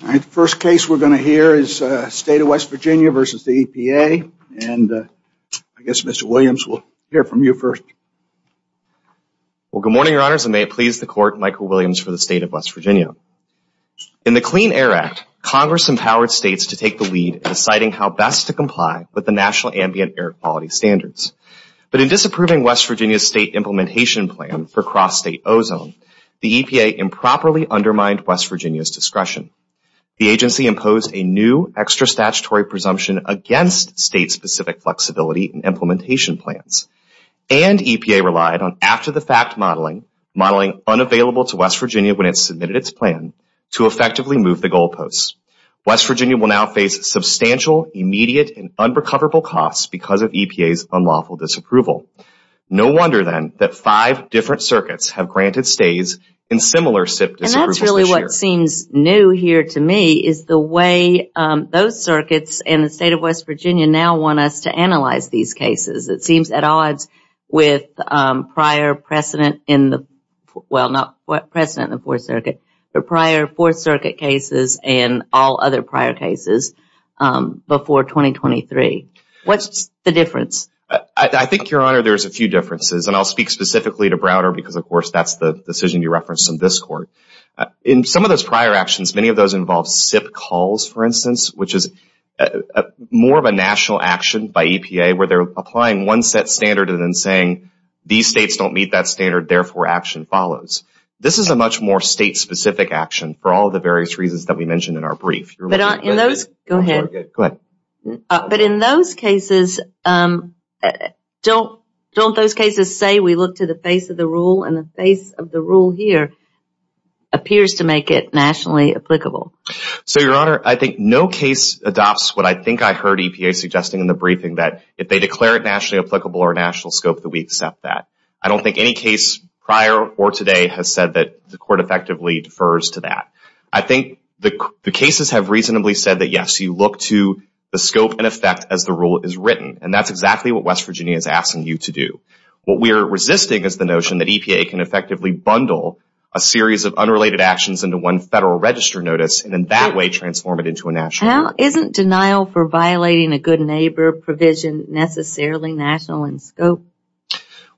The first case we're going to hear is the State of West Virginia v. the EPA and I guess Mr. Williams will hear from you first. Well, good morning, Your Honors, and may it please the Court, Michael Williams for the State of West Virginia. In the Clean Air Act, Congress empowered states to take the lead in deciding how best to comply with the National Ambient Air Quality Standards. But in disapproving West Virginia's state implementation plan for cross-state ozone, the EPA improperly undermined West Virginia's discretion. The agency imposed a new extra-statutory presumption against state-specific flexibility in implementation plans. And EPA relied on after-the-fact modeling, modeling unavailable to West Virginia when it submitted its plan, to effectively move the goalposts. West Virginia will now face substantial, immediate, and unrecoverable costs because of EPA's unlawful disapproval. No wonder, then, that five different circuits have granted stays in similar disapprovals this year. And that's really what seems new here to me is the way those circuits and the State of West Virginia now want us to analyze these cases. It seems at odds with prior precedent in the, well, not precedent in the Fourth Circuit, but prior Fourth Circuit cases and all other prior cases before 2023. What's the difference? I think, Your Honor, there's a few differences. And I'll speak specifically to Browder because, of course, that's the decision you referenced in this court. In some of those prior actions, many of those involved SIP calls, for instance, which is more of a national action by EPA where they're applying one set standard and then saying these states don't meet that standard, therefore action follows. This is a much more state-specific action for all the various reasons that we mentioned in our brief. Go ahead. Go ahead. But in those cases, don't those cases say we look to the face of the rule and the face of the rule here appears to make it nationally applicable? So Your Honor, I think no case adopts what I think I heard EPA suggesting in the briefing that if they declare it nationally applicable or national scope that we accept that. I don't think any case prior or today has said that the court effectively defers to that. I think the cases have reasonably said that, yes, you look to the scope and effect as the rule is written. And that's exactly what West Virginia is asking you to do. What we are resisting is the notion that EPA can effectively bundle a series of unrelated actions into one federal register notice and then that way transform it into a national action. Isn't denial for violating a good neighbor provision necessarily national in scope?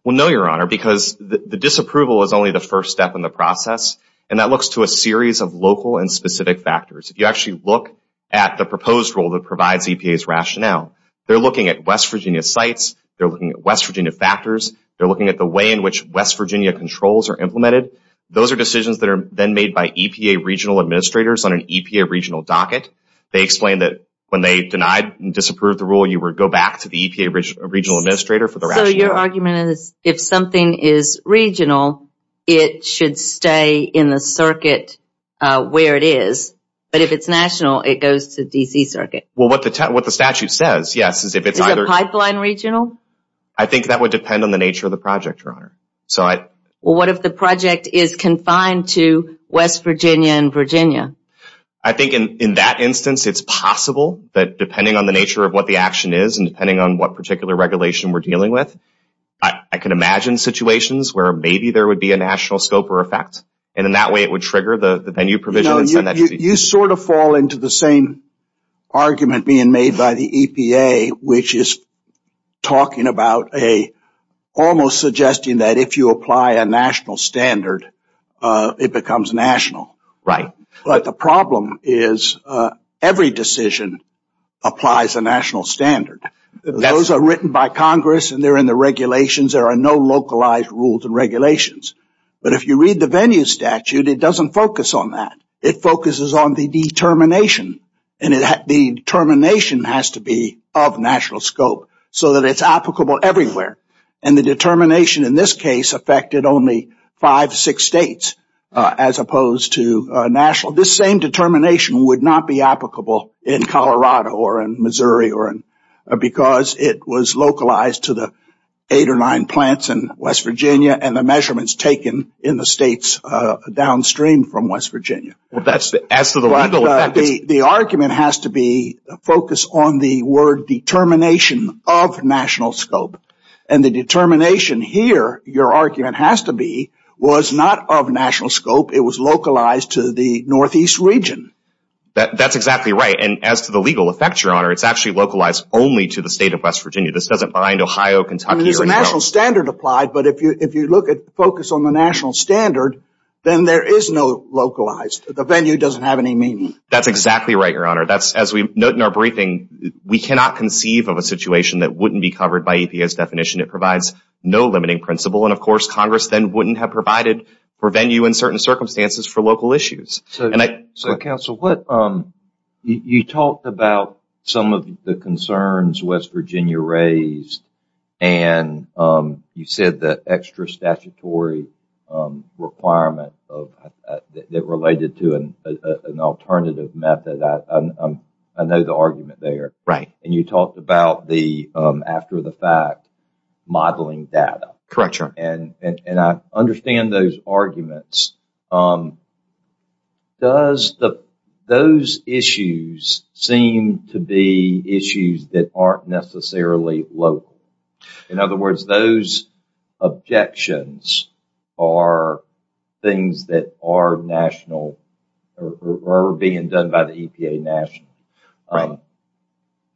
Well, no, Your Honor, because the disapproval is only the first step in the process. And that looks to a series of local and specific factors. If you actually look at the proposed rule that provides EPA's rationale, they're looking at West Virginia sites, they're looking at West Virginia factors, they're looking at the way in which West Virginia controls are implemented. Those are decisions that are then made by EPA regional administrators on an EPA regional docket. They explain that when they denied and disapproved the rule, you would go back to the EPA regional administrator for the rationale. So your argument is if something is regional, it should stay in the circuit where it is. But if it's national, it goes to DC circuit. Well, what the statute says, yes, is if it's either... Is the pipeline regional? I think that would depend on the nature of the project, Your Honor. Well, what if the project is confined to West Virginia and Virginia? I think in that instance, it's possible that depending on the nature of what the action is and depending on what particular regulation we're dealing with, I can imagine situations where maybe there would be a national scope or effect, and in that way it would trigger the venue provision and send that to DC. You sort of fall into the same argument being made by the EPA, which is talking about a almost suggesting that if you apply a national standard, it becomes national. Right. But the problem is every decision applies a national standard. Those are written by Congress and they're in the regulations. There are no localized rules and regulations. But if you read the venue statute, it doesn't focus on that. It focuses on the determination, and the determination has to be of national scope so that it's applicable everywhere. And the determination in this case affected only five, six states as opposed to national. This same determination would not be applicable in Colorado or in Missouri because it was localized to the eight or nine plants in West Virginia and the measurements taken in the states downstream from West Virginia. As to the legal effect? The argument has to be focused on the word determination of national scope. And the determination here, your argument has to be, was not of national scope. It was localized to the Northeast region. That's exactly right. And as to the legal effect, Your Honor, it's actually localized only to the state of West Virginia. This doesn't bind Ohio, Kentucky, or New York. I mean, there's a national standard applied, but if you look at focus on the national standard, then there is no localized. The venue doesn't have any meaning. That's exactly right, Your Honor. As we note in our briefing, we cannot conceive of a situation that wouldn't be covered by EPA's definition. It provides no limiting principle, and of course, Congress then wouldn't have provided for venue in certain circumstances for local issues. So counsel, you talked about some of the concerns West Virginia raised, and you said the extra statutory requirement that related to an alternative method, I know the argument there. Right. And you talked about the, after the fact, modeling data. Correct, Your Honor. And I understand those arguments. Does those issues seem to be issues that aren't necessarily local? In other words, those objections are things that are national, or are being done by the EPA nationally. Right.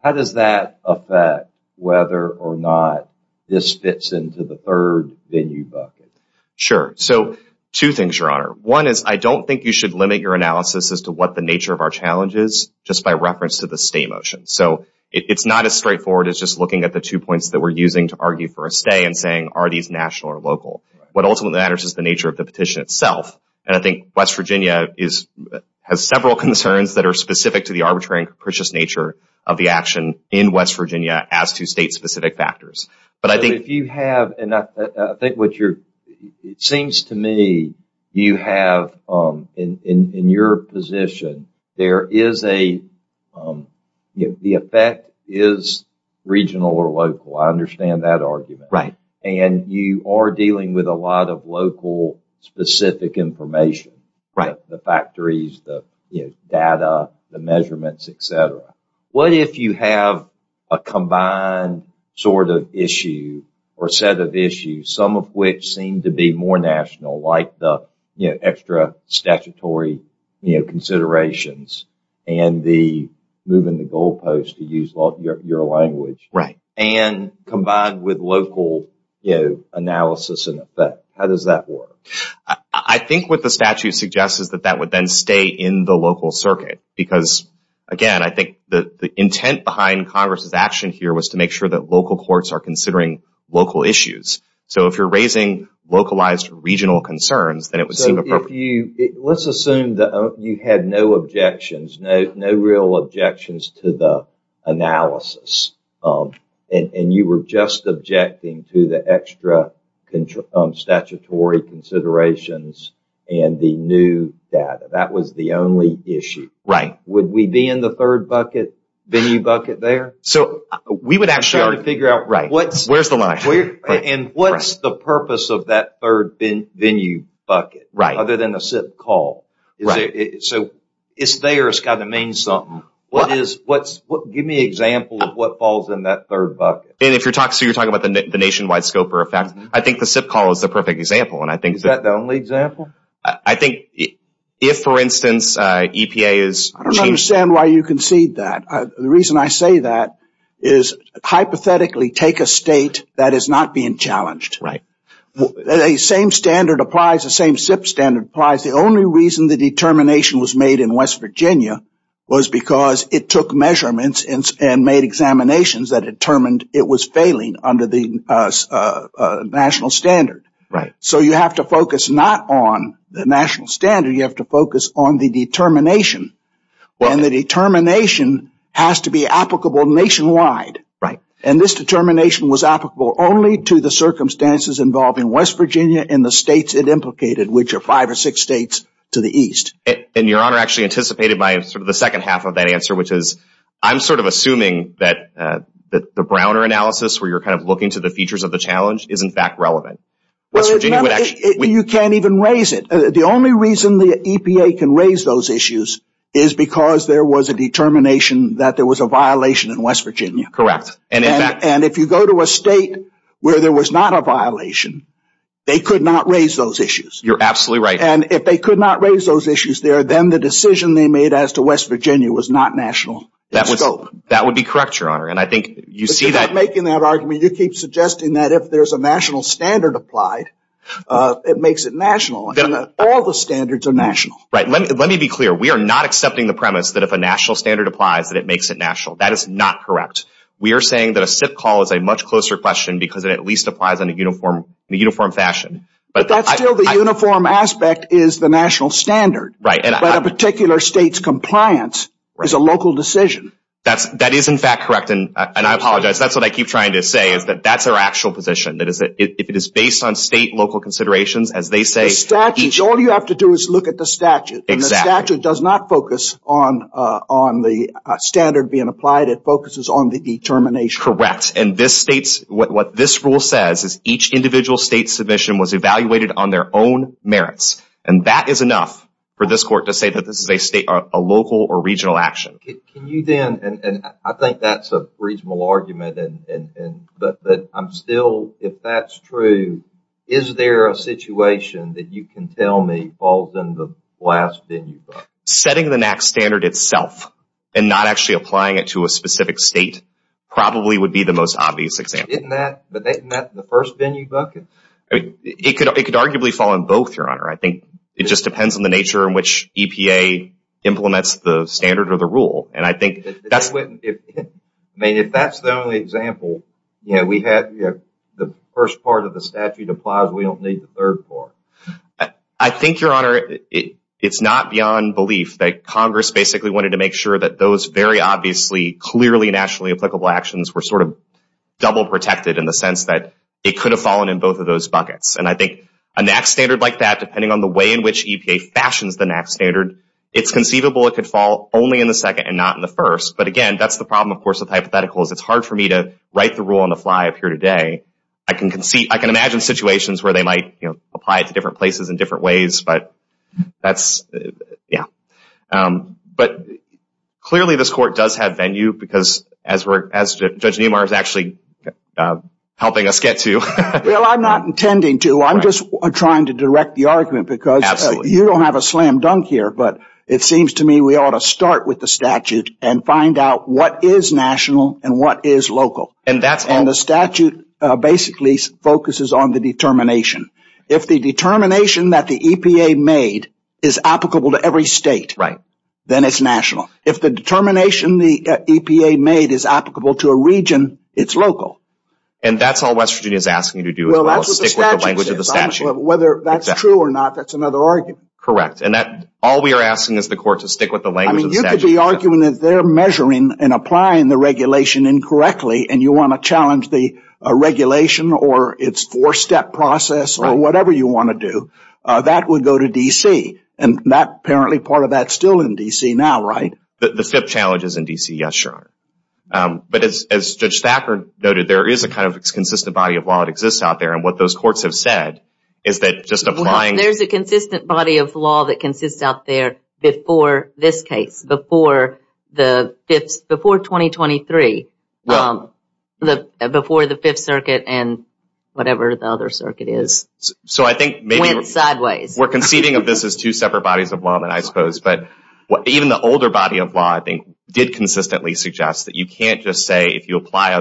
How does that affect whether or not this fits into the third venue bucket? Sure. So two things, Your Honor. One is I don't think you should limit your analysis as to what the nature of our challenge is just by reference to the state motion. So it's not as straightforward as just looking at the two points that we're using to argue for a stay and saying, are these national or local? What ultimately matters is the nature of the petition itself, and I think West Virginia has several concerns that are specific to the arbitrary and capricious nature of the action in West Virginia as to state-specific factors. But I think if you have, and I think what you're, it seems to me you have, in your position, there is a, you know, the effect is regional or local. I understand that argument. Right. And you are dealing with a lot of local specific information, like the factories, the data, the measurements, et cetera. What if you have a combined sort of issue or set of issues, some of which seem to be more national, like the, you know, extra statutory, you know, considerations and the move in the goalposts to use your language. Right. And combined with local, you know, analysis and effect. How does that work? I think what the statute suggests is that that would then stay in the local circuit because again, I think the intent behind Congress's action here was to make sure that local courts are considering local issues. So if you're raising localized regional concerns, then it would seem appropriate. Let's assume that you had no objections, no real objections to the analysis and you were just objecting to the extra statutory considerations and the new data. That was the only issue. Right. Would we be in the third bucket, venue bucket there? And what's the purpose of that third venue bucket other than a SIP call? So it's there, it's got to mean something. Give me an example of what falls in that third bucket. And if you're talking about the nationwide scope or effect, I think the SIP call is the perfect example. Is that the only example? I think if, for instance, EPA is... I don't understand why you concede that. The reason I say that is hypothetically take a state that is not being challenged. The same standard applies, the same SIP standard applies. The only reason the determination was made in West Virginia was because it took measurements and made examinations that determined it was failing under the national standard. So you have to focus not on the national standard, you have to focus on the determination. And the determination has to be applicable nationwide. And this determination was applicable only to the circumstances involved in West Virginia and the states it implicated, which are five or six states to the east. And your honor, actually anticipated by sort of the second half of that answer, which is I'm sort of assuming that the Browner analysis where you're kind of looking to the features of the challenge is in fact relevant. You can't even raise it. The only reason the EPA can raise those issues is because there was a determination that there was a violation in West Virginia. Correct. And in fact... And if you go to a state where there was not a violation, they could not raise those issues. You're absolutely right. And if they could not raise those issues there, then the decision they made as to West Virginia was not national in scope. That would be correct, your honor. And I think you see that... Instead of making that argument, you keep suggesting that if there's a national standard applied, it makes it national. All the standards are national. Right. Let me be clear. We are not accepting the premise that if a national standard applies, that it makes it national. That is not correct. We are saying that a SIP call is a much closer question because it at least applies in a uniform fashion. But that's still the uniform aspect is the national standard. Right. But a particular state's compliance is a local decision. That is in fact correct. And I apologize. That's what I keep trying to say is that that's our actual position. That is, if it is based on state-local considerations, as they say... The statutes. All you have to do is look at the statute. Exactly. And the statute does not focus on the standard being applied. It focuses on the determination. Correct. And this state's... What this rule says is each individual state's submission was evaluated on their own merits. And that is enough for this court to say that this is a state, a local or regional action. Can you then... If that's true, is there a situation that you can tell me falls in the last venue bucket? Setting the NAC standard itself and not actually applying it to a specific state probably would be the most obvious example. Isn't that the first venue bucket? It could arguably fall in both, Your Honor. I think it just depends on the nature in which EPA implements the standard or the rule. And I think... I mean, if that's the only example, you know, we have the first part of the statute applies, we don't need the third part. I think, Your Honor, it's not beyond belief that Congress basically wanted to make sure that those very obviously clearly nationally applicable actions were sort of double protected in the sense that it could have fallen in both of those buckets. And I think a NAC standard like that, depending on the way in which EPA fashions the NAC standard, it's conceivable it could fall only in the second and not in the first. But again, that's the problem, of course, with hypotheticals. It's hard for me to write the rule on the fly up here today. I can imagine situations where they might apply it to different places in different ways, but that's... Yeah. But clearly this court does have venue because as Judge Neumar is actually helping us get to... Well, I'm not intending to. I'm just trying to direct the argument because you don't have a slam dunk here, but it seems to me we ought to start with the statute and find out what is national and what is local. And the statute basically focuses on the determination. If the determination that the EPA made is applicable to every state, then it's national. If the determination the EPA made is applicable to a region, it's local. And that's all West Virginia is asking you to do as well, is stick with the language of the statute. Whether that's true or not, that's another argument. Correct. All we are asking is the court to stick with the language of the statute. I mean, you could be arguing that they're measuring and applying the regulation incorrectly and you want to challenge the regulation or its four-step process or whatever you want to do. That would go to D.C. And apparently part of that's still in D.C. now, right? The FIP challenge is in D.C., yes, Your Honor. But as Judge Thacker noted, there is a kind of consistent body of law that exists out there. And what those courts have said is that just applying... It consists out there before this case, before 2023, before the Fifth Circuit and whatever the other circuit is. So I think maybe... Went sideways. We're conceiving of this as two separate bodies of law, I suppose, but even the older body of law, I think, did consistently suggest that you can't just say if you apply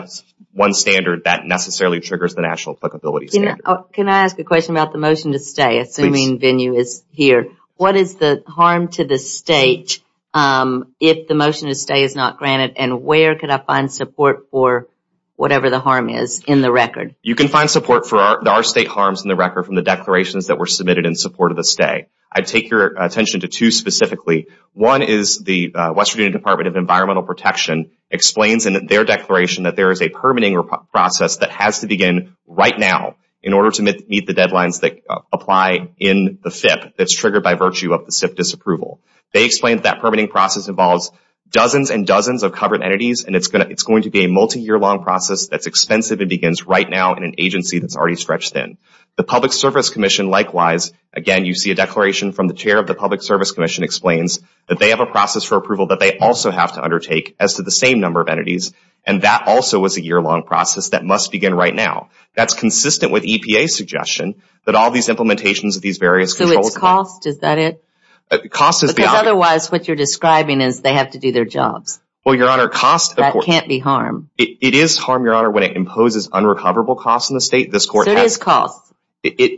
one standard that necessarily triggers the national applicability standard. Can I ask a question about the motion to stay, assuming venue is here? What is the harm to the state if the motion to stay is not granted? And where could I find support for whatever the harm is in the record? You can find support for our state harms in the record from the declarations that were submitted in support of the stay. I'd take your attention to two specifically. One is the West Virginia Department of Environmental Protection explains in their declaration that there is a permitting process that has to begin right now in order to meet the deadlines that apply in the FIP that's triggered by virtue of the SIP disapproval. They explained that permitting process involves dozens and dozens of covered entities and it's going to be a multi-year-long process that's expensive and begins right now in an agency that's already stretched thin. The Public Service Commission, likewise, again, you see a declaration from the chair of the Public Service Commission explains that they have a process for approval that they also have to undertake as to the same number of entities and that also was a year-long process that must begin right now. That's consistent with EPA's suggestion that all these implementations of these various controls... So it's cost? Is that it? Because otherwise what you're describing is they have to do their jobs. Well, Your Honor, cost... That can't be harm. It is harm, Your Honor, when it imposes unrecoverable costs on the state. This court... So it is cost.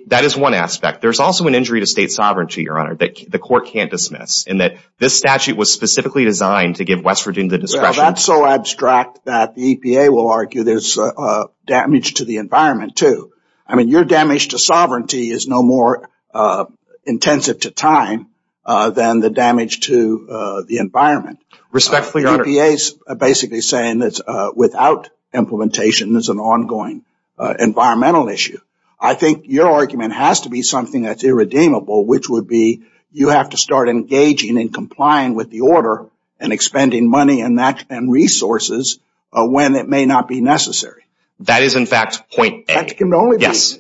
That is one aspect. There's also an injury to state sovereignty, Your Honor, that the court can't dismiss in that this statute was specifically designed to give West Virginia the discretion... I mean, your damage to sovereignty is no more intensive to time than the damage to the environment. Respectfully, Your Honor... EPA's basically saying that without implementation, there's an ongoing environmental issue. I think your argument has to be something that's irredeemable, which would be you have to start engaging and complying with the order and expending money and resources when it may not be necessary. That is, in fact, point A. That can only be... Yes.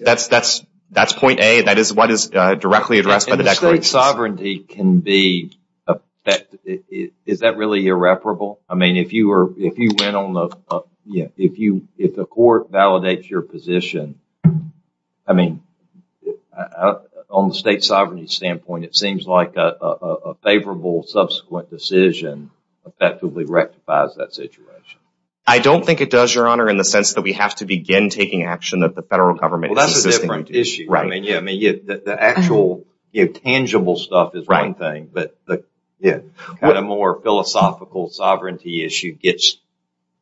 That's point A. That is what is directly addressed by the declaration. And the state sovereignty can be... Is that really irreparable? I mean, if you went on the... If the court validates your position, I mean, on the state sovereignty standpoint, it seems like a favorable subsequent decision effectively rectifies that situation. I don't think it does, Your Honor, in the sense that we have to begin taking action that the federal government... Well, that's a different issue. Right. I mean, yeah. I mean, the actual tangible stuff is one thing, but the kind of more philosophical sovereignty issue gets,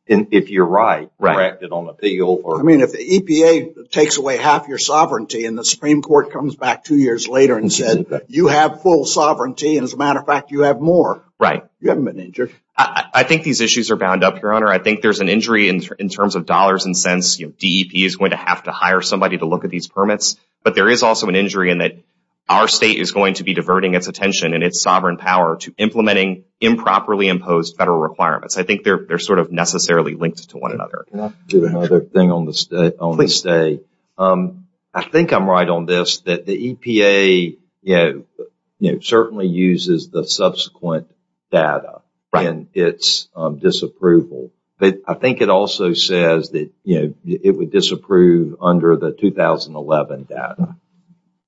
if you're right, corrected on appeal or... I mean, if the EPA takes away half your sovereignty and the Supreme Court comes back two years later and says, you have full sovereignty, and as a matter of fact, you have more. Right. You haven't been injured. I think these issues are bound up, Your Honor. I think there's an injury in terms of dollars and cents, DEP is going to have to hire somebody to look at these permits. But there is also an injury in that our state is going to be diverting its attention and its sovereign power to implementing improperly imposed federal requirements. I think they're sort of necessarily linked to one another. Can I do another thing on the state? I think I'm right on this, that the EPA certainly uses the subsequent data in its disapproval but I think it also says that it would disapprove under the 2011 data.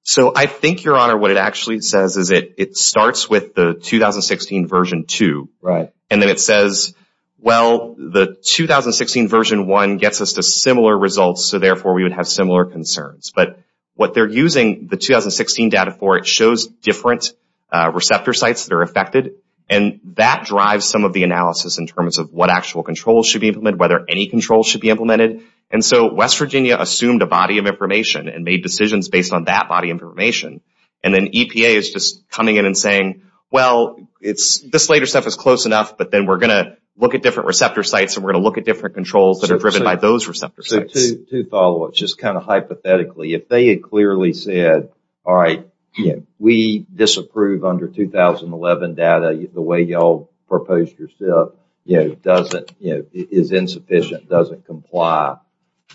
So I think, Your Honor, what it actually says is that it starts with the 2016 version 2. Right. And then it says, well, the 2016 version 1 gets us to similar results, so therefore we would have similar concerns. But what they're using the 2016 data for, it shows different receptor sites that are whether any control should be implemented. And so West Virginia assumed a body of information and made decisions based on that body of information. And then EPA is just coming in and saying, well, this later stuff is close enough, but then we're going to look at different receptor sites and we're going to look at different controls that are driven by those receptor sites. So two follow-ups, just kind of hypothetically, if they had clearly said, all right, we disapprove under 2011 data, the way y'all proposed yourself, is insufficient, doesn't comply.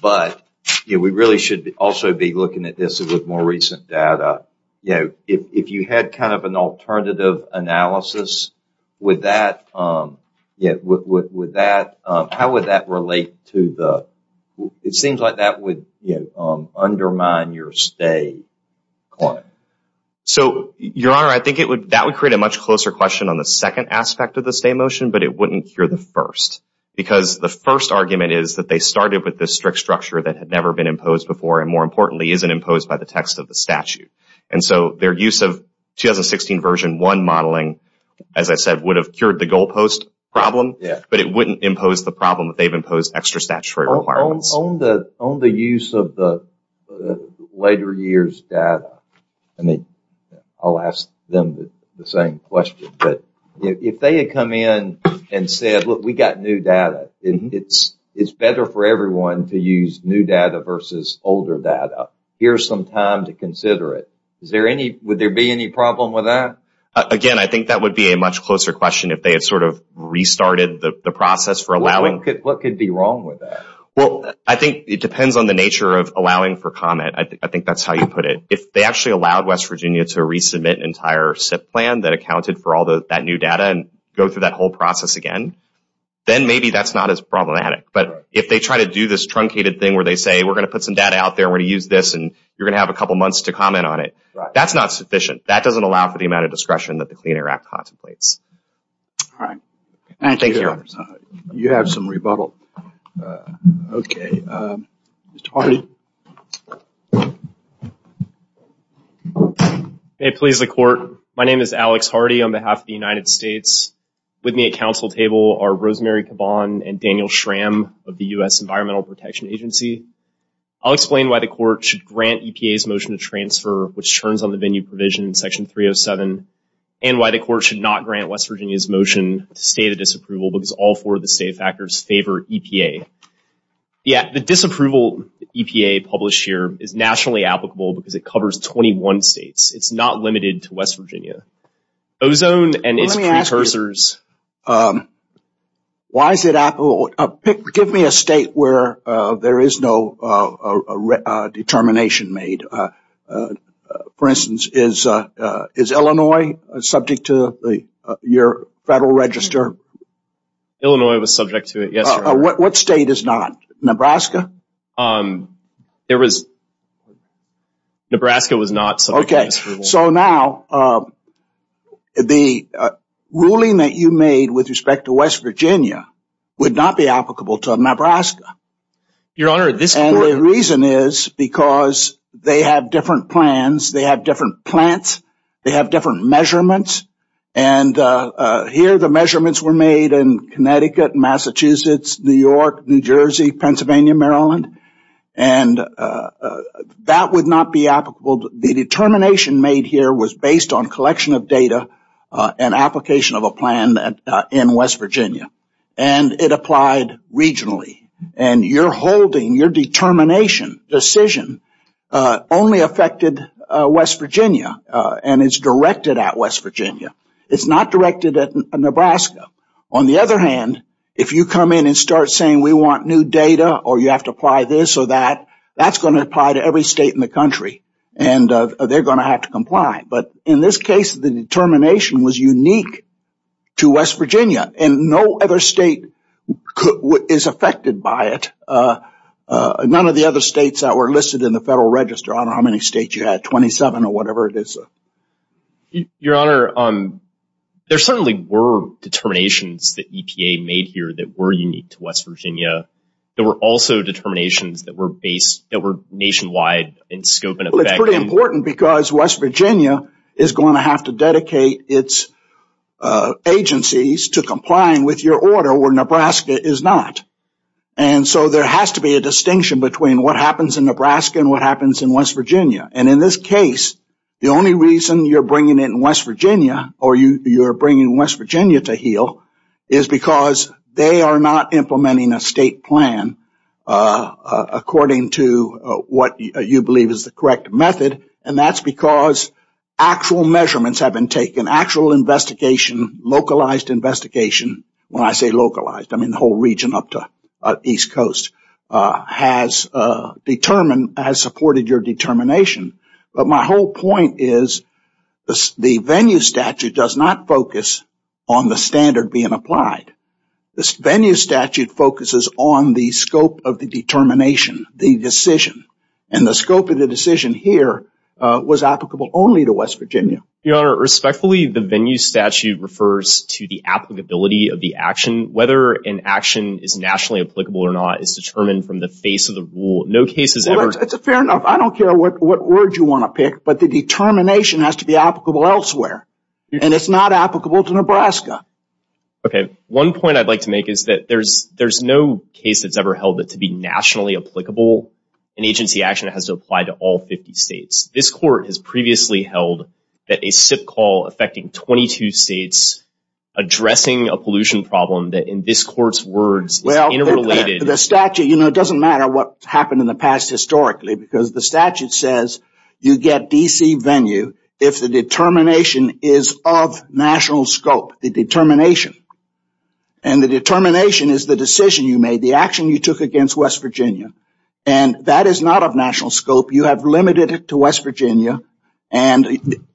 But we really should also be looking at this with more recent data. If you had kind of an alternative analysis, would that, how would that relate to the, it seems like that would undermine your stay. So, your honor, I think it would, that would create a much closer question on the second aspect of the stay motion, but it wouldn't cure the first. Because the first argument is that they started with this strict structure that had never been imposed before, and more importantly, isn't imposed by the text of the statute. And so their use of 2016 version 1 modeling, as I said, would have cured the goal post problem, but it wouldn't impose the problem that they've imposed extra statutory requirements. On the use of the later years data, I'll ask them the same question, but if they had come in and said, look, we got new data, it's better for everyone to use new data versus older data, here's some time to consider it, would there be any problem with that? Again, I think that would be a much closer question if they had sort of restarted the process for allowing. What could be wrong with that? Well, I think it depends on the nature of allowing for comment. I think that's how you put it. If they actually allowed West Virginia to resubmit an entire SIP plan that accounted for all that new data and go through that whole process again, then maybe that's not as problematic. But if they try to do this truncated thing where they say, we're going to put some data out there and we're going to use this and you're going to have a couple months to comment on it, that's not sufficient. That doesn't allow for the amount of discretion that the Clean Air Act contemplates. All right. Thank you. You have some rebuttal. Okay. Mr. Hardy. May it please the court, my name is Alex Hardy on behalf of the United States. With me at council table are Rosemary Caban and Daniel Schramm of the U.S. Environmental Protection Agency. I'll explain why the court should grant EPA's motion to transfer, which turns on the venue provision in section 307, and why the court should not grant West Virginia's motion to transfer. The motion is all for the safe factors favor EPA. Yeah. The disapproval EPA published here is nationally applicable because it covers 21 states. It's not limited to West Virginia. Ozone and its precursors. Why is it applicable? Give me a state where there is no determination made. For instance, is Illinois subject to your federal register? Illinois was subject to it, yes. What state is not? Nebraska? There was, Nebraska was not subject to this rule. Okay. So now, the ruling that you made with respect to West Virginia would not be applicable to Nebraska. Your Honor, this court... And the reason is because they have different plans, they have different plans, they have different measurements, and here the measurements were made in Connecticut, Massachusetts, New York, New Jersey, Pennsylvania, Maryland, and that would not be applicable. The determination made here was based on collection of data and application of a plan in West Virginia, and it applied regionally. And your holding, your determination, decision, only affected West Virginia, and it's directed at West Virginia. It's not directed at Nebraska. On the other hand, if you come in and start saying we want new data, or you have to apply this or that, that's going to apply to every state in the country, and they're going to have to comply. But in this case, the determination was unique to West Virginia, and no other state is affected by it. None of the other states that were listed in the Federal Register. I don't know how many states you had, 27 or whatever it is. Your Honor, there certainly were determinations that EPA made here that were unique to West Virginia. There were also determinations that were based, that were nationwide in scope and effect. Well, it's pretty important because West Virginia is going to have to dedicate its agencies to complying with your order, where Nebraska is not. And so there has to be a distinction between what happens in Nebraska and what happens in West Virginia. And in this case, the only reason you're bringing it in West Virginia, or you're bringing West Virginia to heel, is because they are not implementing a state plan according to what you believe is the correct method, and that's because actual measurements have been taken. Actual investigation, localized investigation, when I say localized, I mean the whole region up to East Coast, has supported your determination. But my whole point is the venue statute does not focus on the standard being applied. The venue statute focuses on the scope of the determination, the decision, and the scope of the decision here was applicable only to West Virginia. Your Honor, respectfully, the venue statute refers to the applicability of the action. Whether an action is nationally applicable or not is determined from the face of the rule. No case has ever... Fair enough. I don't care what word you want to pick, but the determination has to be applicable elsewhere, and it's not applicable to Nebraska. Okay. One point I'd like to make is that there's no case that's ever held that to be nationally applicable, an agency action has to apply to all 50 states. This court has previously held that a SIP call affecting 22 states addressing a pollution problem that in this court's words is interrelated... Well, the statute, you know, it doesn't matter what happened in the past historically, because the statute says you get D.C. venue if the determination is of national scope, the determination, and the determination is the decision you made, the action you took against West Virginia, and that is not of national scope. You have limited it to West Virginia, and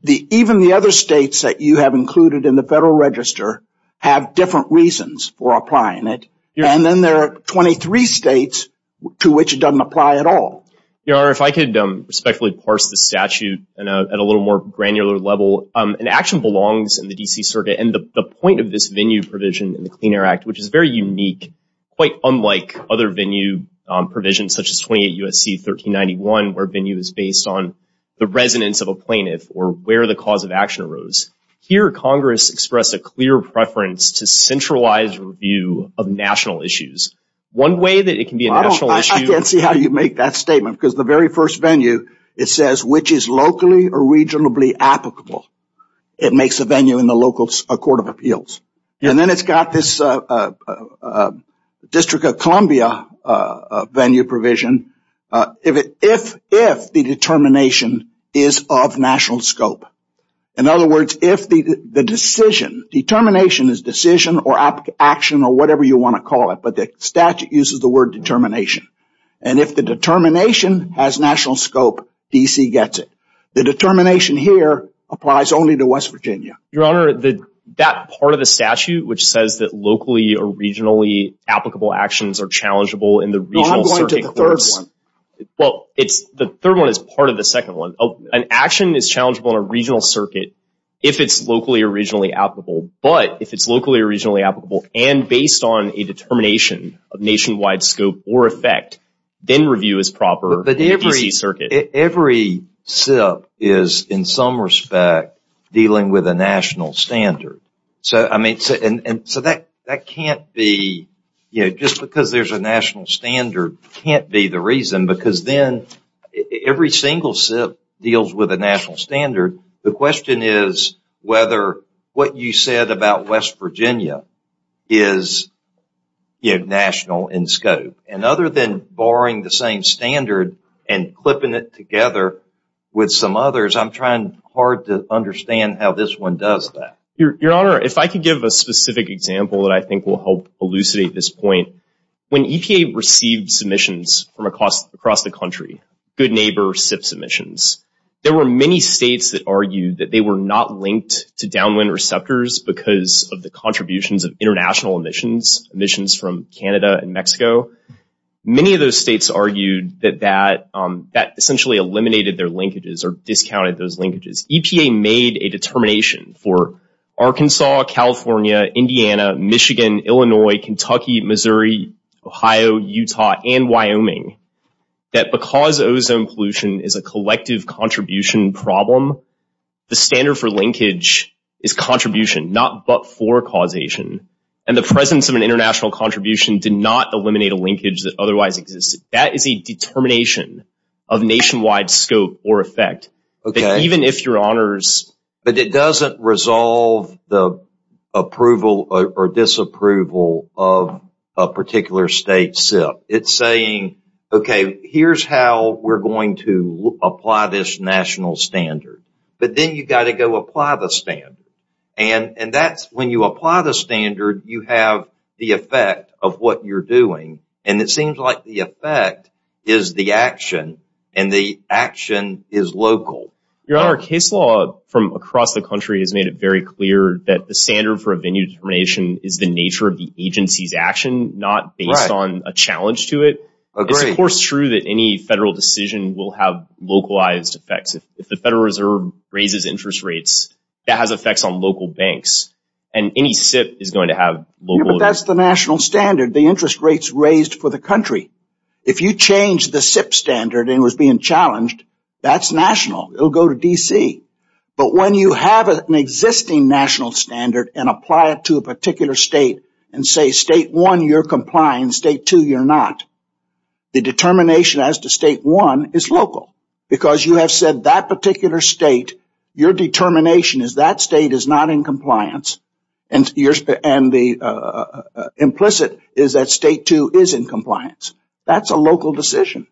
even the other states that you have included in the Federal Register have different reasons for applying it, and then there are 23 states to which it doesn't apply at all. Your Honor, if I could respectfully parse the statute at a little more granular level. An action belongs in the D.C. Circuit, and the point of this venue provision in the Clean Air Act, which is very unique, quite unlike other venue provisions such as 28 U.S.C. 1391, where venue is based on the residence of a plaintiff or where the cause of action arose. Here Congress expressed a clear preference to centralize review of national issues. One way that it can be a national issue... See how you make that statement, because the very first venue, it says which is locally or regionally applicable. It makes a venue in the local court of appeals, and then it's got this District of Columbia venue provision, if the determination is of national scope. In other words, if the determination is decision or action or whatever you want to call it, but the statute uses the word determination. And if the determination has national scope, D.C. gets it. The determination here applies only to West Virginia. Your Honor, that part of the statute which says that locally or regionally applicable actions are challengeable in the regional circuit... No, I'm going to the third one. Well, the third one is part of the second one. An action is challengeable in a regional circuit if it's locally or regionally applicable, but if it's locally or regionally applicable and based on a determination of nationwide scope or effect, then review is proper in the D.C. circuit. Every SIP is in some respect dealing with a national standard. So that can't be... Just because there's a national standard can't be the reason, because then every single SIP deals with a national standard. The question is whether what you said about West Virginia is national in scope. And other than borrowing the same standard and clipping it together with some others, I'm trying hard to understand how this one does that. Your Honor, if I could give a specific example that I think will help elucidate this point. When EPA received submissions from across the country, good neighbor SIP submissions, there were many states that argued that they were not linked to downwind receptors because of the contributions of international emissions, emissions from Canada and Mexico. Many of those states argued that that essentially eliminated their linkages or discounted those linkages. EPA made a determination for Arkansas, California, Indiana, Michigan, Illinois, Kentucky, Missouri, Ohio, Utah, and Wyoming that because ozone pollution is a collective contribution problem, the standard for linkage is contribution, not but for causation. And the presence of an international contribution did not eliminate a linkage that otherwise existed. That is a determination of nationwide scope or effect. Even if your Honors... state SIP, it's saying, okay, here's how we're going to apply this national standard. But then you've got to go apply the standard. And that's when you apply the standard, you have the effect of what you're doing. And it seems like the effect is the action and the action is local. Your Honor, case law from across the country has made it very clear that the standard for SIP is based on a challenge to it. It's of course true that any federal decision will have localized effects. If the Federal Reserve raises interest rates, that has effects on local banks. And any SIP is going to have local... That's the national standard, the interest rates raised for the country. If you change the SIP standard and it was being challenged, that's national, it'll go to D.C. But when you have an existing national standard and apply it to a particular state and say state one, you're compliant, state two, you're not, the determination as to state one is local because you have said that particular state, your determination is that state is not in compliance and the implicit is that state two is in compliance. That's a local decision.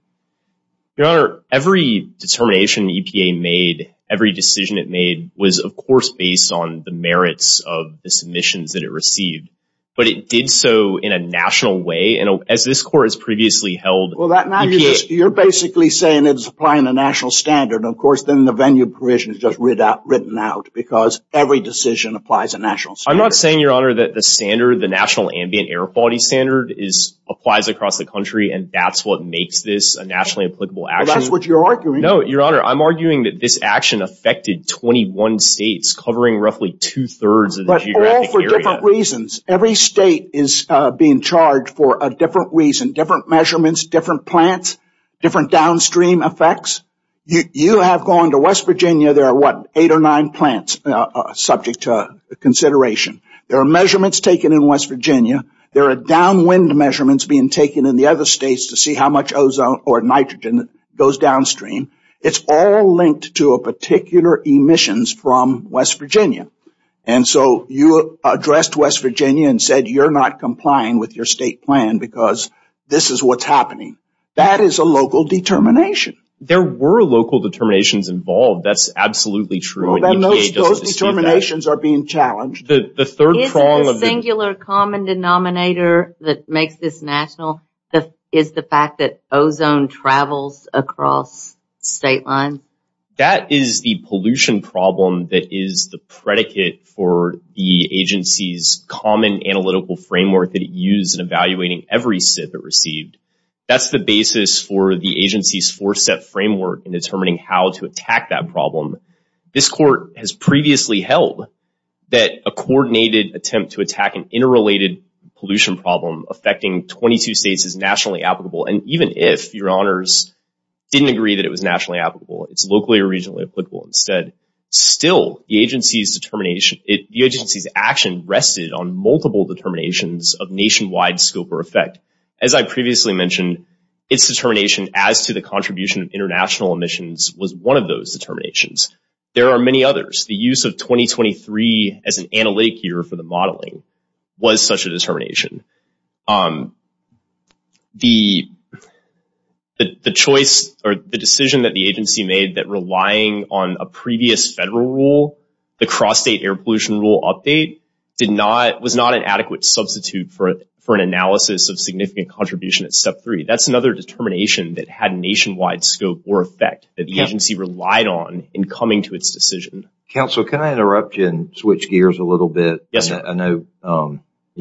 Your Honor, every determination EPA made, every decision it made was of course based on the merits of the submissions that it received. But it did so in a national way and as this court has previously held... Well, that now you're basically saying it's applying a national standard. Of course, then the venue provision is just written out because every decision applies a national standard. I'm not saying, Your Honor, that the standard, the national ambient air quality standard applies across the country and that's what makes this a nationally applicable action. Well, that's what you're arguing. No, Your Honor, I'm arguing that this action affected 21 states covering roughly two-thirds of the geographic area. For different reasons. Every state is being charged for a different reason, different measurements, different plants, different downstream effects. You have gone to West Virginia, there are what, eight or nine plants subject to consideration. There are measurements taken in West Virginia. There are downwind measurements being taken in the other states to see how much ozone or nitrogen goes downstream. It's all linked to a particular emissions from West Virginia. And so, you addressed West Virginia and said you're not complying with your state plan because this is what's happening. That is a local determination. There were local determinations involved. That's absolutely true. EPA doesn't see that. Well, then those determinations are being challenged. The third prong of the... Is it a singular common denominator that makes this national? Is the fact that ozone travels across state lines? That is the pollution problem that is the predicate for the agency's common analytical framework that it used in evaluating every SIF it received. That's the basis for the agency's four-step framework in determining how to attack that problem. This court has previously held that a coordinated attempt to attack an interrelated pollution problem affecting 22 states is nationally applicable. And even if your honors didn't agree that it was nationally applicable, it's locally or regionally applicable instead, still, the agency's action rested on multiple determinations of nationwide scope or effect. As I previously mentioned, its determination as to the contribution of international emissions was one of those determinations. There are many others. The use of 2023 as an analytic year for the modeling was such a determination. The choice or the decision that the agency made that relying on a previous federal rule, the cross-state air pollution rule update, was not an adequate substitute for an analysis of significant contribution at step three. That's another determination that had nationwide scope or effect that the agency relied on in coming to its decision. Counsel, can I interrupt you and switch gears a little bit? Yes, sir. I know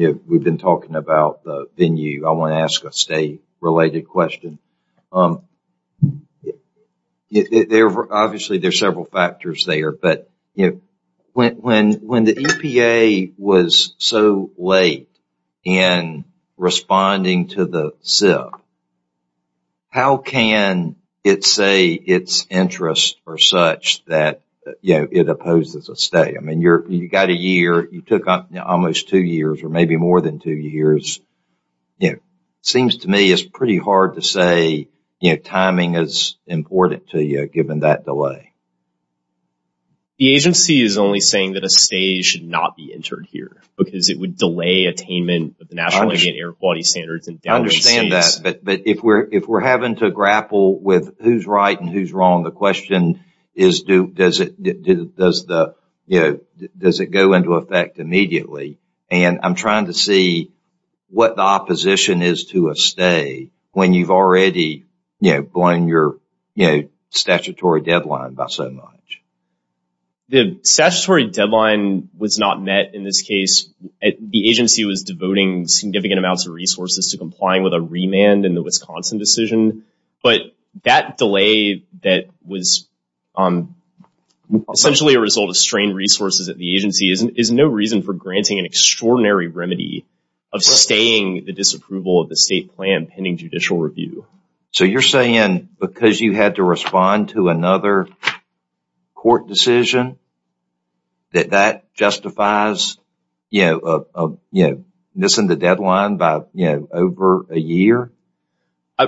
we've been talking about the venue. I want to ask a state-related question. Obviously, there are several factors there, but when the EPA was so late in responding to the SIP, how can it say its interests are such that it opposes a state? You got a year. You took almost two years or maybe more than two years. It seems to me it's pretty hard to say timing is important to you given that delay. The agency is only saying that a state should not be entered here because it would delay attainment of the National Indian Air Quality Standards. I understand that, but if we're having to grapple with who's right and who's wrong, the question is, does it go into effect immediately? I'm trying to see what the opposition is to a state when you've already blown your statutory deadline by so much. The statutory deadline was not met in this case. The agency was devoting significant amounts of resources to complying with a remand in the Wisconsin decision. That delay that was essentially a result of strained resources at the agency is no reason for granting an extraordinary remedy of sustaining the disapproval of the state plan pending judicial review. So, you're saying because you had to respond to another court decision that that justifies missing the deadline by over a year?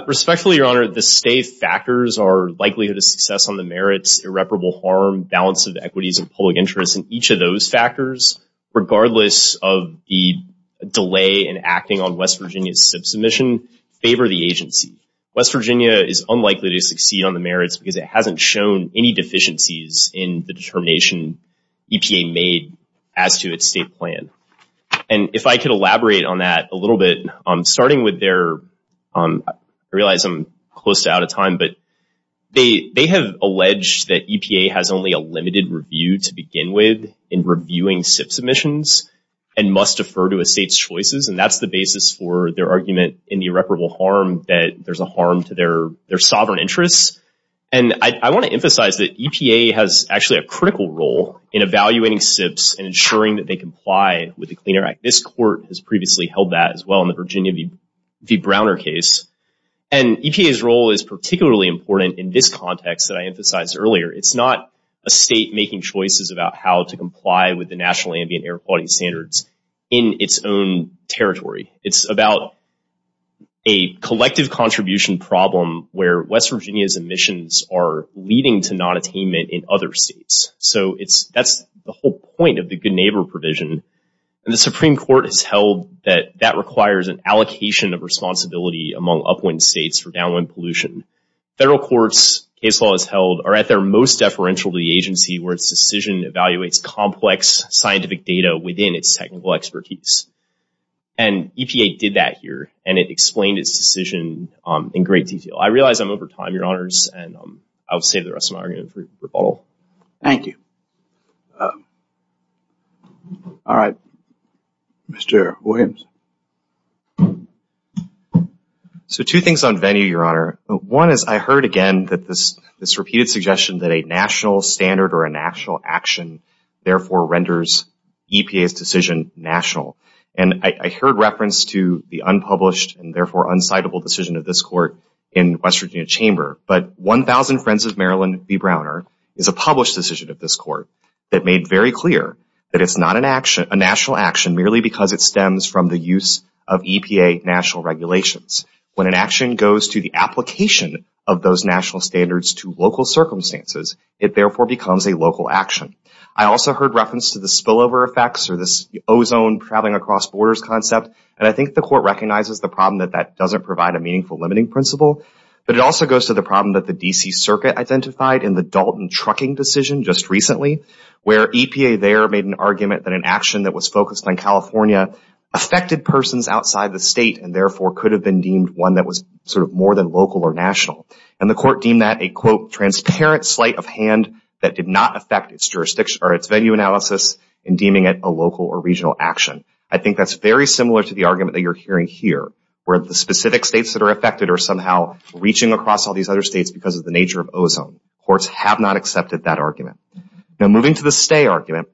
Respectfully, Your Honor, the state factors are likelihood of success on the merits, irreparable harm, balance of equities and public interest, and each of those factors, regardless of the delay in acting on West Virginia's sub-submission, favor the agency. West Virginia is unlikely to succeed on the merits because it hasn't shown any deficiencies in the determination EPA made as to its state plan. And if I could elaborate on that a little bit, starting with their, I realize I'm close to out of time, but they have alleged that EPA has only a limited review to begin with in reviewing SIP submissions and must defer to a state's choices, and that's the basis for their argument in the irreparable harm that there's a harm to their sovereign interests. And I want to emphasize that EPA has actually a critical role in evaluating SIPs and ensuring that they comply with the Clean Air Act. This court has previously held that as well in the Virginia v. Browner case. And EPA's role is particularly important in this context that I emphasized earlier. It's not a state making choices about how to comply with the National Ambient Air Quality Standards in its own territory. It's about a collective contribution problem where West Virginia's emissions are leading to nonattainment in other states. So it's, that's the whole point of the good neighbor provision. And the Supreme Court has held that that requires an allocation of responsibility among upwind states for downwind pollution. Federal courts, case law is held, are at their most deferential to the agency where its decision evaluates complex scientific data within its technical expertise. And EPA did that here, and it explained its decision in great detail. I realize I'm over time, your honors, and I'll save the rest of my argument for rebuttal. Thank you. All right. Mr. Williams. So two things on venue, your honor. One is, I heard again that this, this repeated suggestion that a national standard or a national action therefore renders EPA's decision national. And I heard reference to the unpublished and therefore unscindable decision of this court in West Virginia Chamber. But 1,000 Friends of Maryland v. Browner is a published decision of this court that made very clear that it's not an action, a national action, merely because it stems from the use of EPA national regulations. When an action goes to the application of those national standards to local circumstances, it therefore becomes a local action. I also heard reference to the spillover effects or this ozone traveling across borders concept. And I think the court recognizes the problem that that doesn't provide a meaningful limiting principle. But it also goes to the problem that the D.C. Circuit identified in the Dalton Trucking decision just recently, where EPA there made an argument that an action that was focused on California affected persons outside the state and therefore could have been deemed one that was sort of more than local or national. And the court deemed that a, quote, transparent slight of hand that did not affect its jurisdiction or its venue analysis in deeming it a local or regional action. I think that's very similar to the argument that you're hearing here, where the specific states that are affected are somehow reaching across all these other states because of the nature of ozone. Courts have not accepted that argument. Now, moving to the stay argument,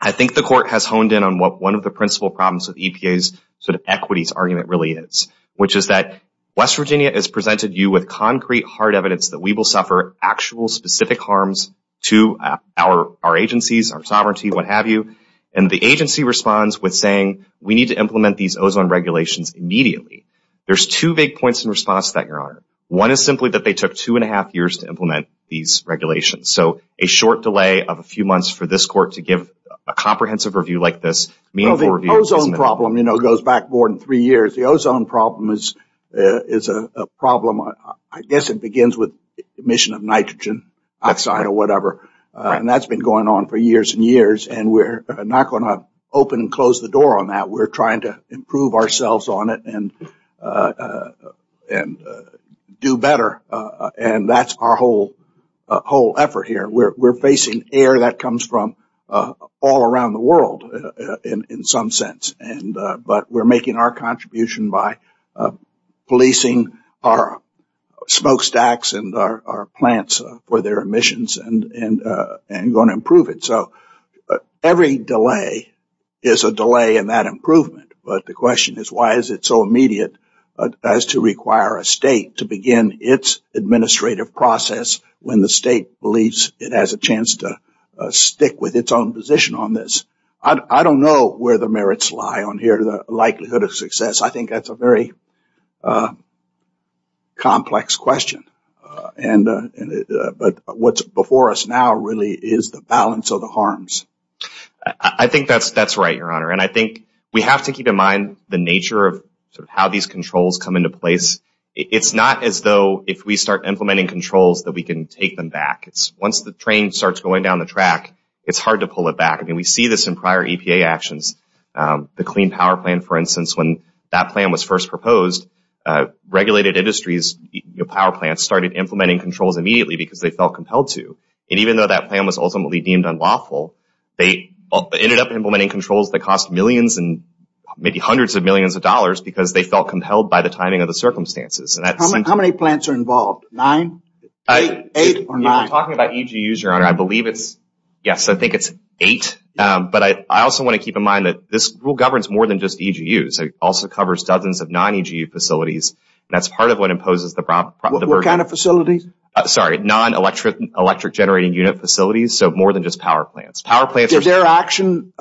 I think the court has honed in on what one of the principal problems with EPA's sort of equities argument really is, which is that West Virginia has presented you with concrete, hard evidence that we will suffer actual specific harms to our agencies, our sovereignty, what have you. And the agency responds with saying, we need to implement these ozone regulations immediately. There's two big points in response to that, Your Honor. One is simply that they took two and a half years to implement these regulations. So a short delay of a few months for this court to give a comprehensive review like this, meaningful review. Well, the ozone problem, you know, goes back more than three years. The ozone problem is a problem, I guess it begins with emission of nitrogen oxide or whatever. And that's been going on for years and years. And we're not going to open and close the door on that. We're trying to improve ourselves on it and do better. And that's our whole effort here. We're facing air that comes from all around the world in some sense. But we're making our contribution by policing our smokestacks and our plants for their emissions and going to improve it. So every delay is a delay in that improvement. But the question is, why is it so immediate as to require a state to begin its administrative process when the state believes it has a chance to stick with its own position on this? I don't know where the merits lie on here, the likelihood of success. I think that's a very complex question. But what's before us now really is the balance of the harms. I think that's right, Your Honor. And I think we have to keep in mind the nature of how these controls come into place. It's not as though if we start implementing controls that we can take them back. Once the train starts going down the track, it's hard to pull it back. I mean, we see this in prior EPA actions. The Clean Power Plan, for instance, when that plan was first proposed, regulated industries, power plants started implementing controls immediately because they felt compelled to. And even though that plan was ultimately deemed unlawful, they ended up implementing controls that cost millions and maybe hundreds of millions of dollars because they felt compelled by the timing of the circumstances. How many plants are involved? Nine, eight, or nine? If we're talking about EGUs, Your Honor, I believe it's, yes, I think it's eight. But I also want to keep in mind that this rule governs more than just EGUs. It also covers dozens of non-EGU facilities. That's part of what imposes the burden. What kind of facilities? Sorry, non-electric generating unit facilities. So more than just power plants. Does their action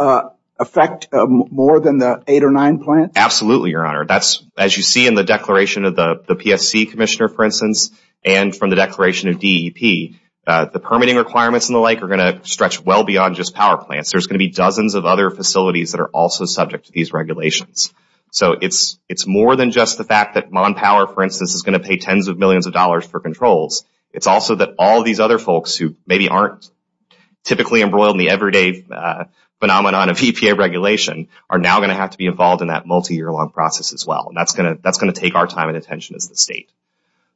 affect more than the eight or nine plants? Absolutely, Your Honor. As you see in the declaration of the PSC commissioner, for instance, and from the declaration of DEP, the permitting requirements and the like are going to stretch well beyond just power plants. There's going to be dozens of other facilities that are also subject to these regulations. So it's more than just the fact that MonPower, for instance, is going to pay tens of millions of dollars for controls. It's also that all these other folks who maybe aren't typically embroiled in the everyday phenomenon of EPA regulation are now going to have to be involved in that multi-year long process as well. That's going to take our time and attention as the state.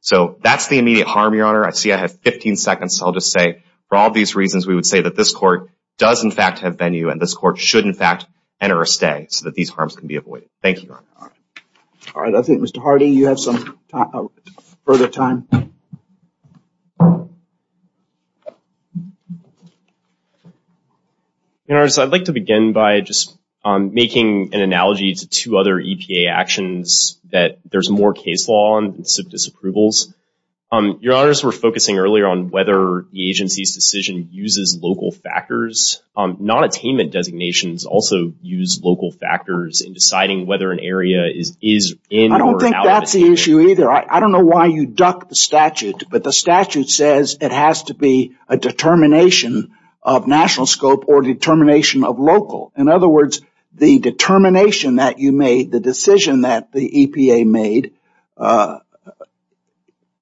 So that's the immediate harm, Your Honor. I see I have 15 seconds. So I'll just say, for all these reasons, we would say that this court does, in fact, and this court should, in fact, enter a stay so that these harms can be avoided. Thank you, Your Honor. All right. I think, Mr. Hardy, you have some further time. Your Honor, I'd like to begin by just making an analogy to two other EPA actions that there's more case law and some disapprovals. Your Honor, as we were focusing earlier on whether the agency's decision uses local factors, non-attainment designations also use local factors in deciding whether an area is in or out. I don't think that's the issue either. I don't know why you ducked the statute, but the statute says it has to be a determination of national scope or determination of local. In other words, the determination that you made, the decision that the EPA made,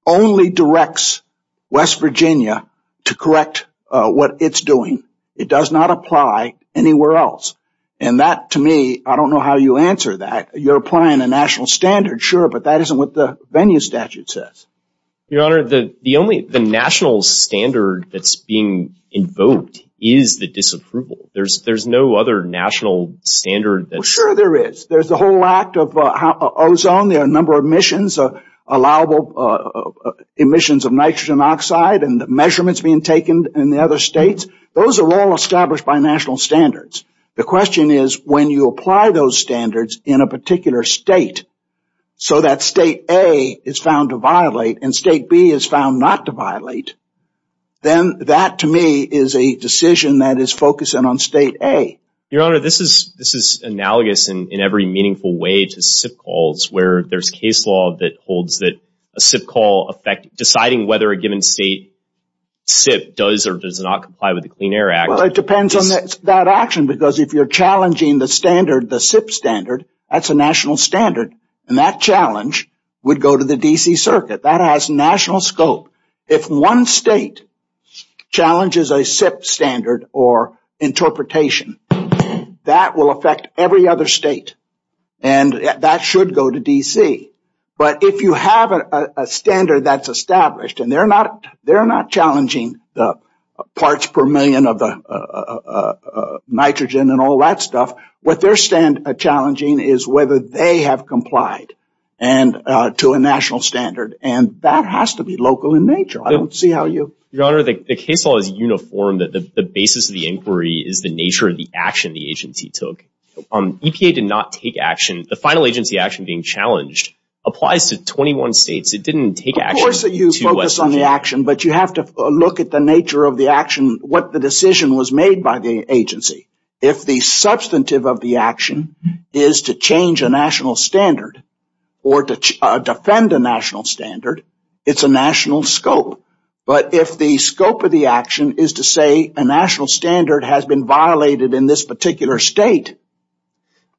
only directs West Virginia to correct what it's doing. It does not apply anywhere else. And that, to me, I don't know how you answer that. You're applying a national standard, sure, but that isn't what the venue statute says. Your Honor, the only national standard that's being invoked is the disapproval. There's no other national standard. Sure there is. There's the whole act of ozone. There are a number of emissions, allowable emissions of nitrogen oxide and measurements being taken in the other states. Those are all established by national standards. The question is, when you apply those standards in a particular state so that state A is found to violate and state B is found not to violate, then that, to me, is a decision that is focusing on state A. Your Honor, this is analogous in every meaningful way to SIP calls, where there's case law that holds that a SIP call effect deciding whether a given state SIP does or does not comply with the Clean Air Act. Well, it depends on that action, because if you're challenging the standard, the SIP standard, that's a national standard, and that challenge would go to the D.C. Circuit. That has national scope. If one state challenges a SIP standard or interpretation, that will affect every other state, and that should go to D.C. But if you have a standard that's established and they're not challenging the parts per million of the nitrogen and all that stuff, what they're challenging is whether they have a national standard. Your Honor, the case law is uniform, that the basis of the inquiry is the nature of the action the agency took. EPA did not take action. The final agency action being challenged applies to 21 states. It didn't take action. Of course, you focus on the action, but you have to look at the nature of the action, what the decision was made by the agency. It's a national scope. But if the scope of the action is to say a national standard has been violated in this particular state,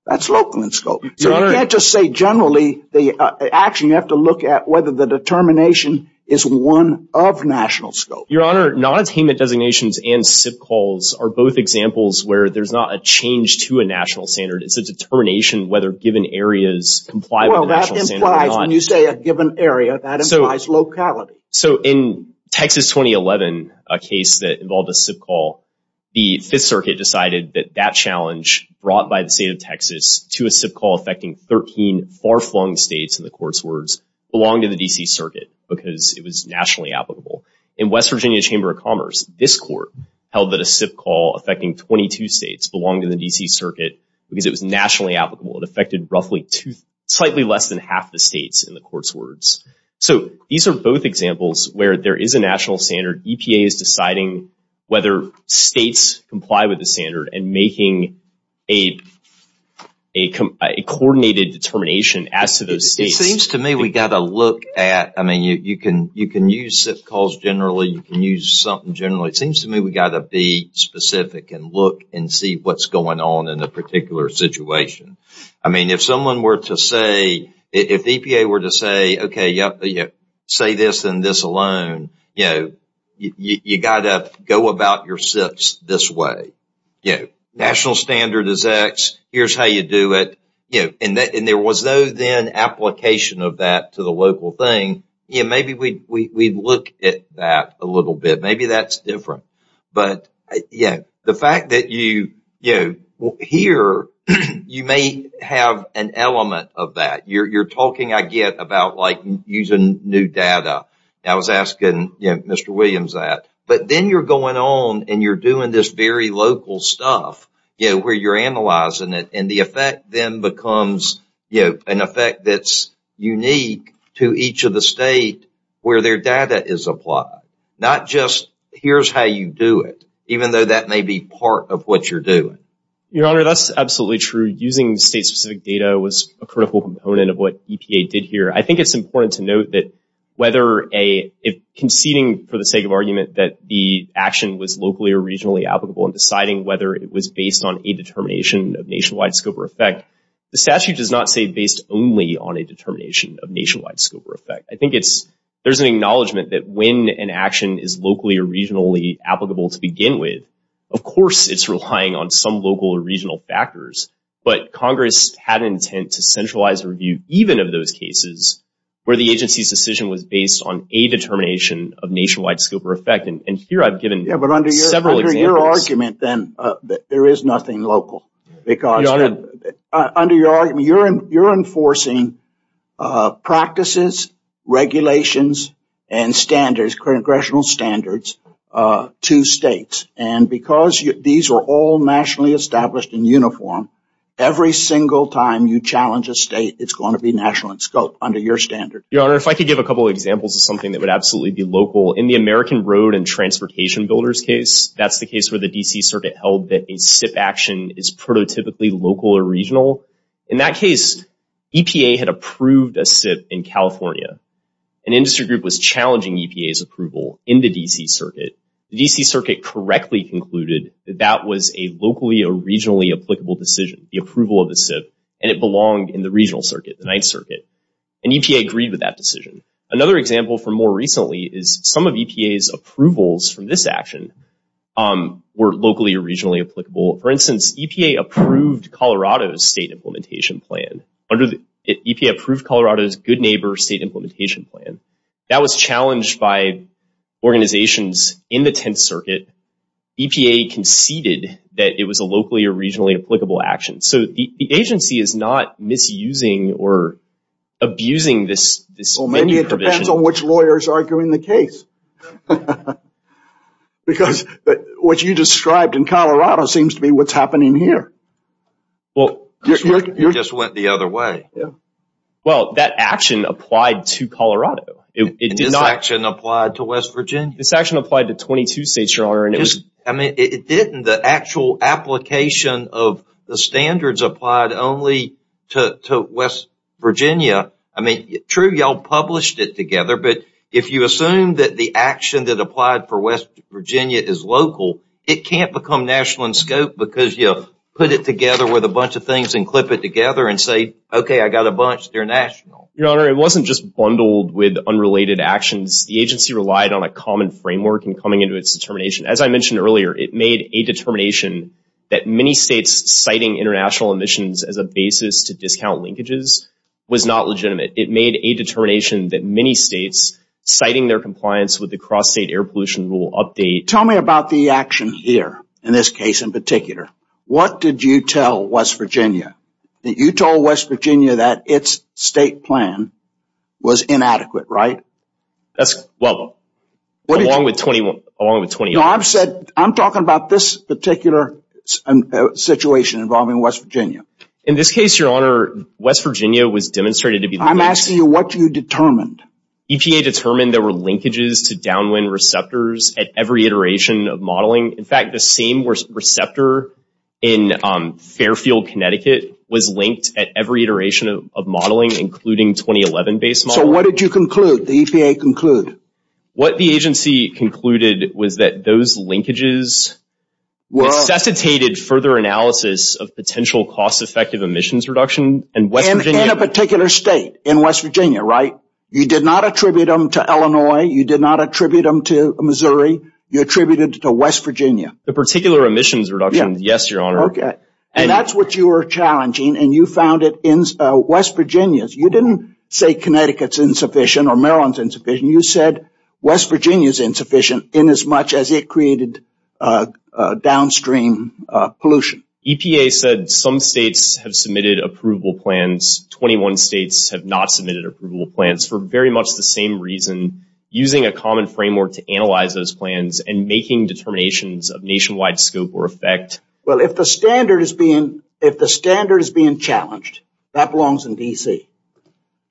that's local in scope. So you can't just say generally the action. You have to look at whether the determination is one of national scope. Your Honor, non-attainment designations and SIP calls are both examples where there's not a change to a national standard. It's a determination whether given areas comply with the national standard or not. When you say a given area, that implies locality. So in Texas 2011, a case that involved a SIP call, the Fifth Circuit decided that that challenge brought by the state of Texas to a SIP call affecting 13 far-flung states, in the Court's words, belonged to the D.C. Circuit because it was nationally applicable. In West Virginia Chamber of Commerce, this Court held that a SIP call affecting 22 states belonged to the D.C. Circuit because it was nationally applicable. It affected slightly less than half the states, in the Court's words. So these are both examples where there is a national standard. EPA is deciding whether states comply with the standard and making a coordinated determination as to those states. It seems to me we've got to look at, I mean, you can use SIP calls generally. You can use something generally. It seems to me we've got to be specific and look and see what's going on in a particular situation. I mean, if someone were to say, if EPA were to say, okay, say this and this alone, you know, you've got to go about your SIPs this way. You know, national standard is X. Here's how you do it. You know, and there was no then application of that to the local thing. Yeah, maybe we'd look at that a little bit. Maybe that's different. But, yeah, the fact that you, you know, here you may have an element of that. You're talking, I get, about like using new data. I was asking, you know, Mr. Williams that. But then you're going on and you're doing this very local stuff, you know, where you're analyzing it. And the effect then becomes, you know, an effect that's unique to each of the states where their data is applied. Not just here's how you do it, even though that may be part of what you're doing. Your Honor, that's absolutely true. Using state-specific data was a critical component of what EPA did here. I think it's important to note that whether a, if conceding for the sake of argument that the action was locally or regionally applicable and deciding whether it was based on a determination of nationwide scope or effect, the statute does not say based only on a determination of nationwide scope or effect. I think it's, there's an acknowledgement that when an action is locally or regionally applicable to begin with, of course it's relying on some local or regional factors. But Congress had an intent to centralize a review even of those cases where the agency's decision was based on a determination of nationwide scope or effect. And here I've given several examples. Under your argument then, there is nothing local. Because under your argument, you're enforcing practices, regulations, and standards, congressional standards to states. And because these are all nationally established and uniform, every single time you challenge a state, it's going to be national in scope under your standard. Your Honor, if I could give a couple of examples of something that would absolutely be local. In the American Road and Transportation Builders case, that's the case where the D.C. Circuit held that a SIP action is prototypically local or regional. In that case, EPA had approved a SIP in California. An industry group was challenging EPA's approval in the D.C. Circuit. The D.C. Circuit correctly concluded that that was a locally or regionally applicable decision, the approval of the SIP, and it belonged in the regional circuit, the 9th Circuit. And EPA agreed with that decision. Another example from more recently is some of EPA's approvals from this action were locally or regionally applicable. For instance, EPA approved Colorado's state implementation plan. EPA approved Colorado's good neighbor state implementation plan. That was challenged by organizations in the 10th Circuit. EPA conceded that it was a locally or regionally applicable action. So the agency is not misusing or abusing this provision. Well, maybe it depends on which lawyer is arguing the case. Because what you described in Colorado seems to be what's happening here. Well, you just went the other way. Well, that action applied to Colorado. It did not apply to West Virginia. This action applied to 22 states, Your Honor. I mean, it didn't. The actual application of the standards applied only to West Virginia. I mean, true, y'all published it together. But if you assume that the action that applied for West Virginia is local, it can't become national in scope because you put it together with a bunch of things and clip it together and say, OK, I got a bunch. They're national. Your Honor, it wasn't just bundled with unrelated actions. The agency relied on a common framework in coming into its determination. As I mentioned earlier, it made a determination that many states citing international emissions as a basis to discount linkages was not legitimate. It made a determination that many states citing their compliance with the cross-state air pollution rule update. Tell me about the action here in this case in particular. What did you tell West Virginia? That you told West Virginia that its state plan was inadequate, right? That's well, along with 21, along with 20. No, I've said I'm talking about this particular situation involving West Virginia. In this case, Your Honor, West Virginia was demonstrated to be. I'm asking you what you determined. EPA determined there were linkages to downwind receptors at every iteration of modeling. In fact, the same receptor in Fairfield, Connecticut, was linked at every iteration of modeling, including 2011 based model. So what did you conclude? The EPA concluded. What the agency concluded was that those linkages necessitated further analysis of potential cost effective emissions reduction. In a particular state in West Virginia, right? You did not attribute them to Illinois. You did not attribute them to Missouri. You attributed to West Virginia. The particular emissions reduction. Yes, Your Honor. And that's what you were challenging. And you found it in West Virginia. You didn't say Connecticut's insufficient or Maryland's insufficient. You said West Virginia is insufficient in as much as it created downstream pollution. EPA said some states have submitted approval plans. 21 states have not submitted approval plans for very much the same reason. Using a common framework to analyze those plans and making determinations of nationwide scope or effect. Well, if the standard is being challenged, that belongs in D.C.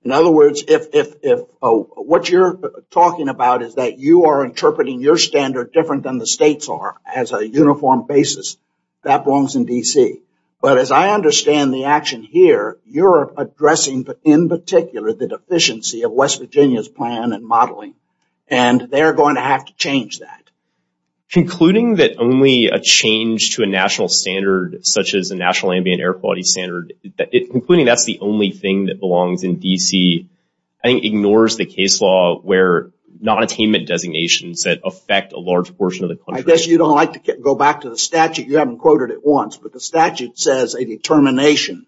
In other words, if what you're talking about is that you are interpreting your standard different than the states are as a uniform basis, that belongs in D.C. But as I understand the action here, you're addressing, in particular, the deficiency of West Virginia's plan and modeling. And they're going to have to change that. Concluding that only a change to a national standard, such as a national ambient air quality standard, including that's the only thing that belongs in D.C., I think ignores the case law where nonattainment designations that affect a large portion of the country. I guess you don't like to go back to the statute. You haven't quoted it once. But the statute says a determination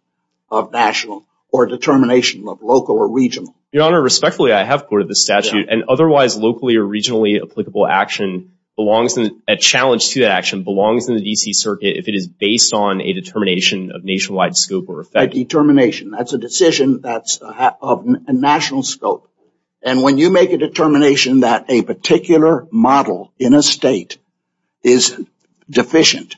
of national or determination of local or regional. Your Honor, respectfully, I have quoted the statute. And otherwise locally or regionally applicable action belongs in a challenge to action belongs in the D.C. Circuit if it is based on a determination of nationwide scope or effect. A determination. That's a decision. That's a national scope. And when you make a determination that a particular model in a state is deficient,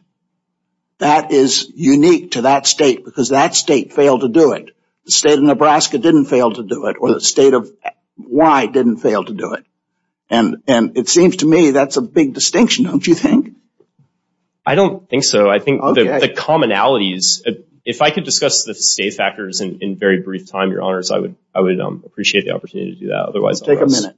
that is unique to that state because that state failed to do it. The state of Nebraska didn't fail to do it or the state of Y didn't fail to do it. And it seems to me that's a big distinction, don't you think? I don't think so. I think the commonalities. If I could discuss the state factors in very brief time, I would appreciate the opportunity to do that. Otherwise, take a minute.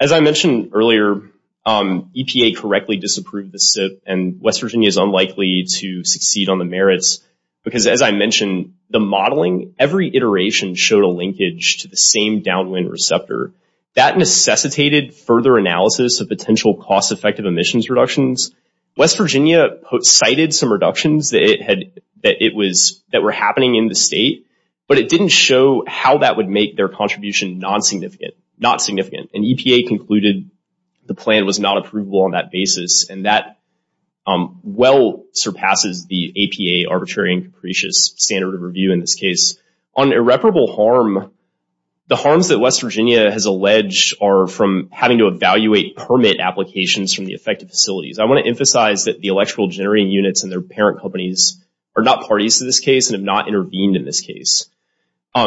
As I mentioned earlier, EPA correctly disapproved the SIP. And West Virginia is unlikely to succeed on the merits. Because as I mentioned, the modeling, every iteration showed a linkage to the same downwind receptor. That necessitated further analysis of potential cost effective emissions reductions. West Virginia cited some reductions that were happening in the state. But it didn't show how that would make their contribution non-significant. Not significant. And EPA concluded the plan was not approvable on that basis. And that well surpasses the APA arbitrary and capricious standard of review in this case. On irreparable harm, the harms that West Virginia has alleged are from having to evaluate permit applications from the affected facilities. I want to emphasize that the electrical generating units and their parent companies are not parties to this case and have not intervened in this case.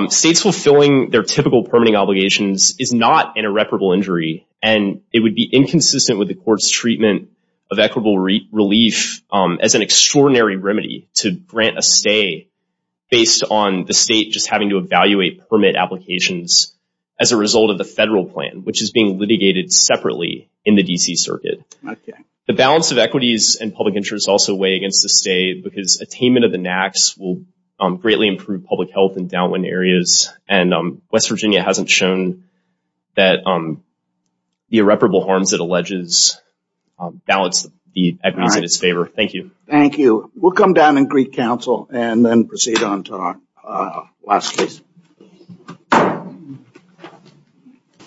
States fulfilling their typical permitting obligations is not an irreparable injury. And it would be inconsistent with the court's treatment of equitable relief as an extraordinary remedy to grant a stay based on the state just having to evaluate permit applications as a result of the federal plan, which is being litigated separately in the D.C. Circuit. The balance of equities and public interest also weigh against the stay because attainment of the NAAQS will greatly improve public health in downwind areas. And West Virginia hasn't shown that the irreparable harms it alleges balance the equities in its favor. Thank you. Thank you. We'll come down and greet counsel and then proceed on to our last case.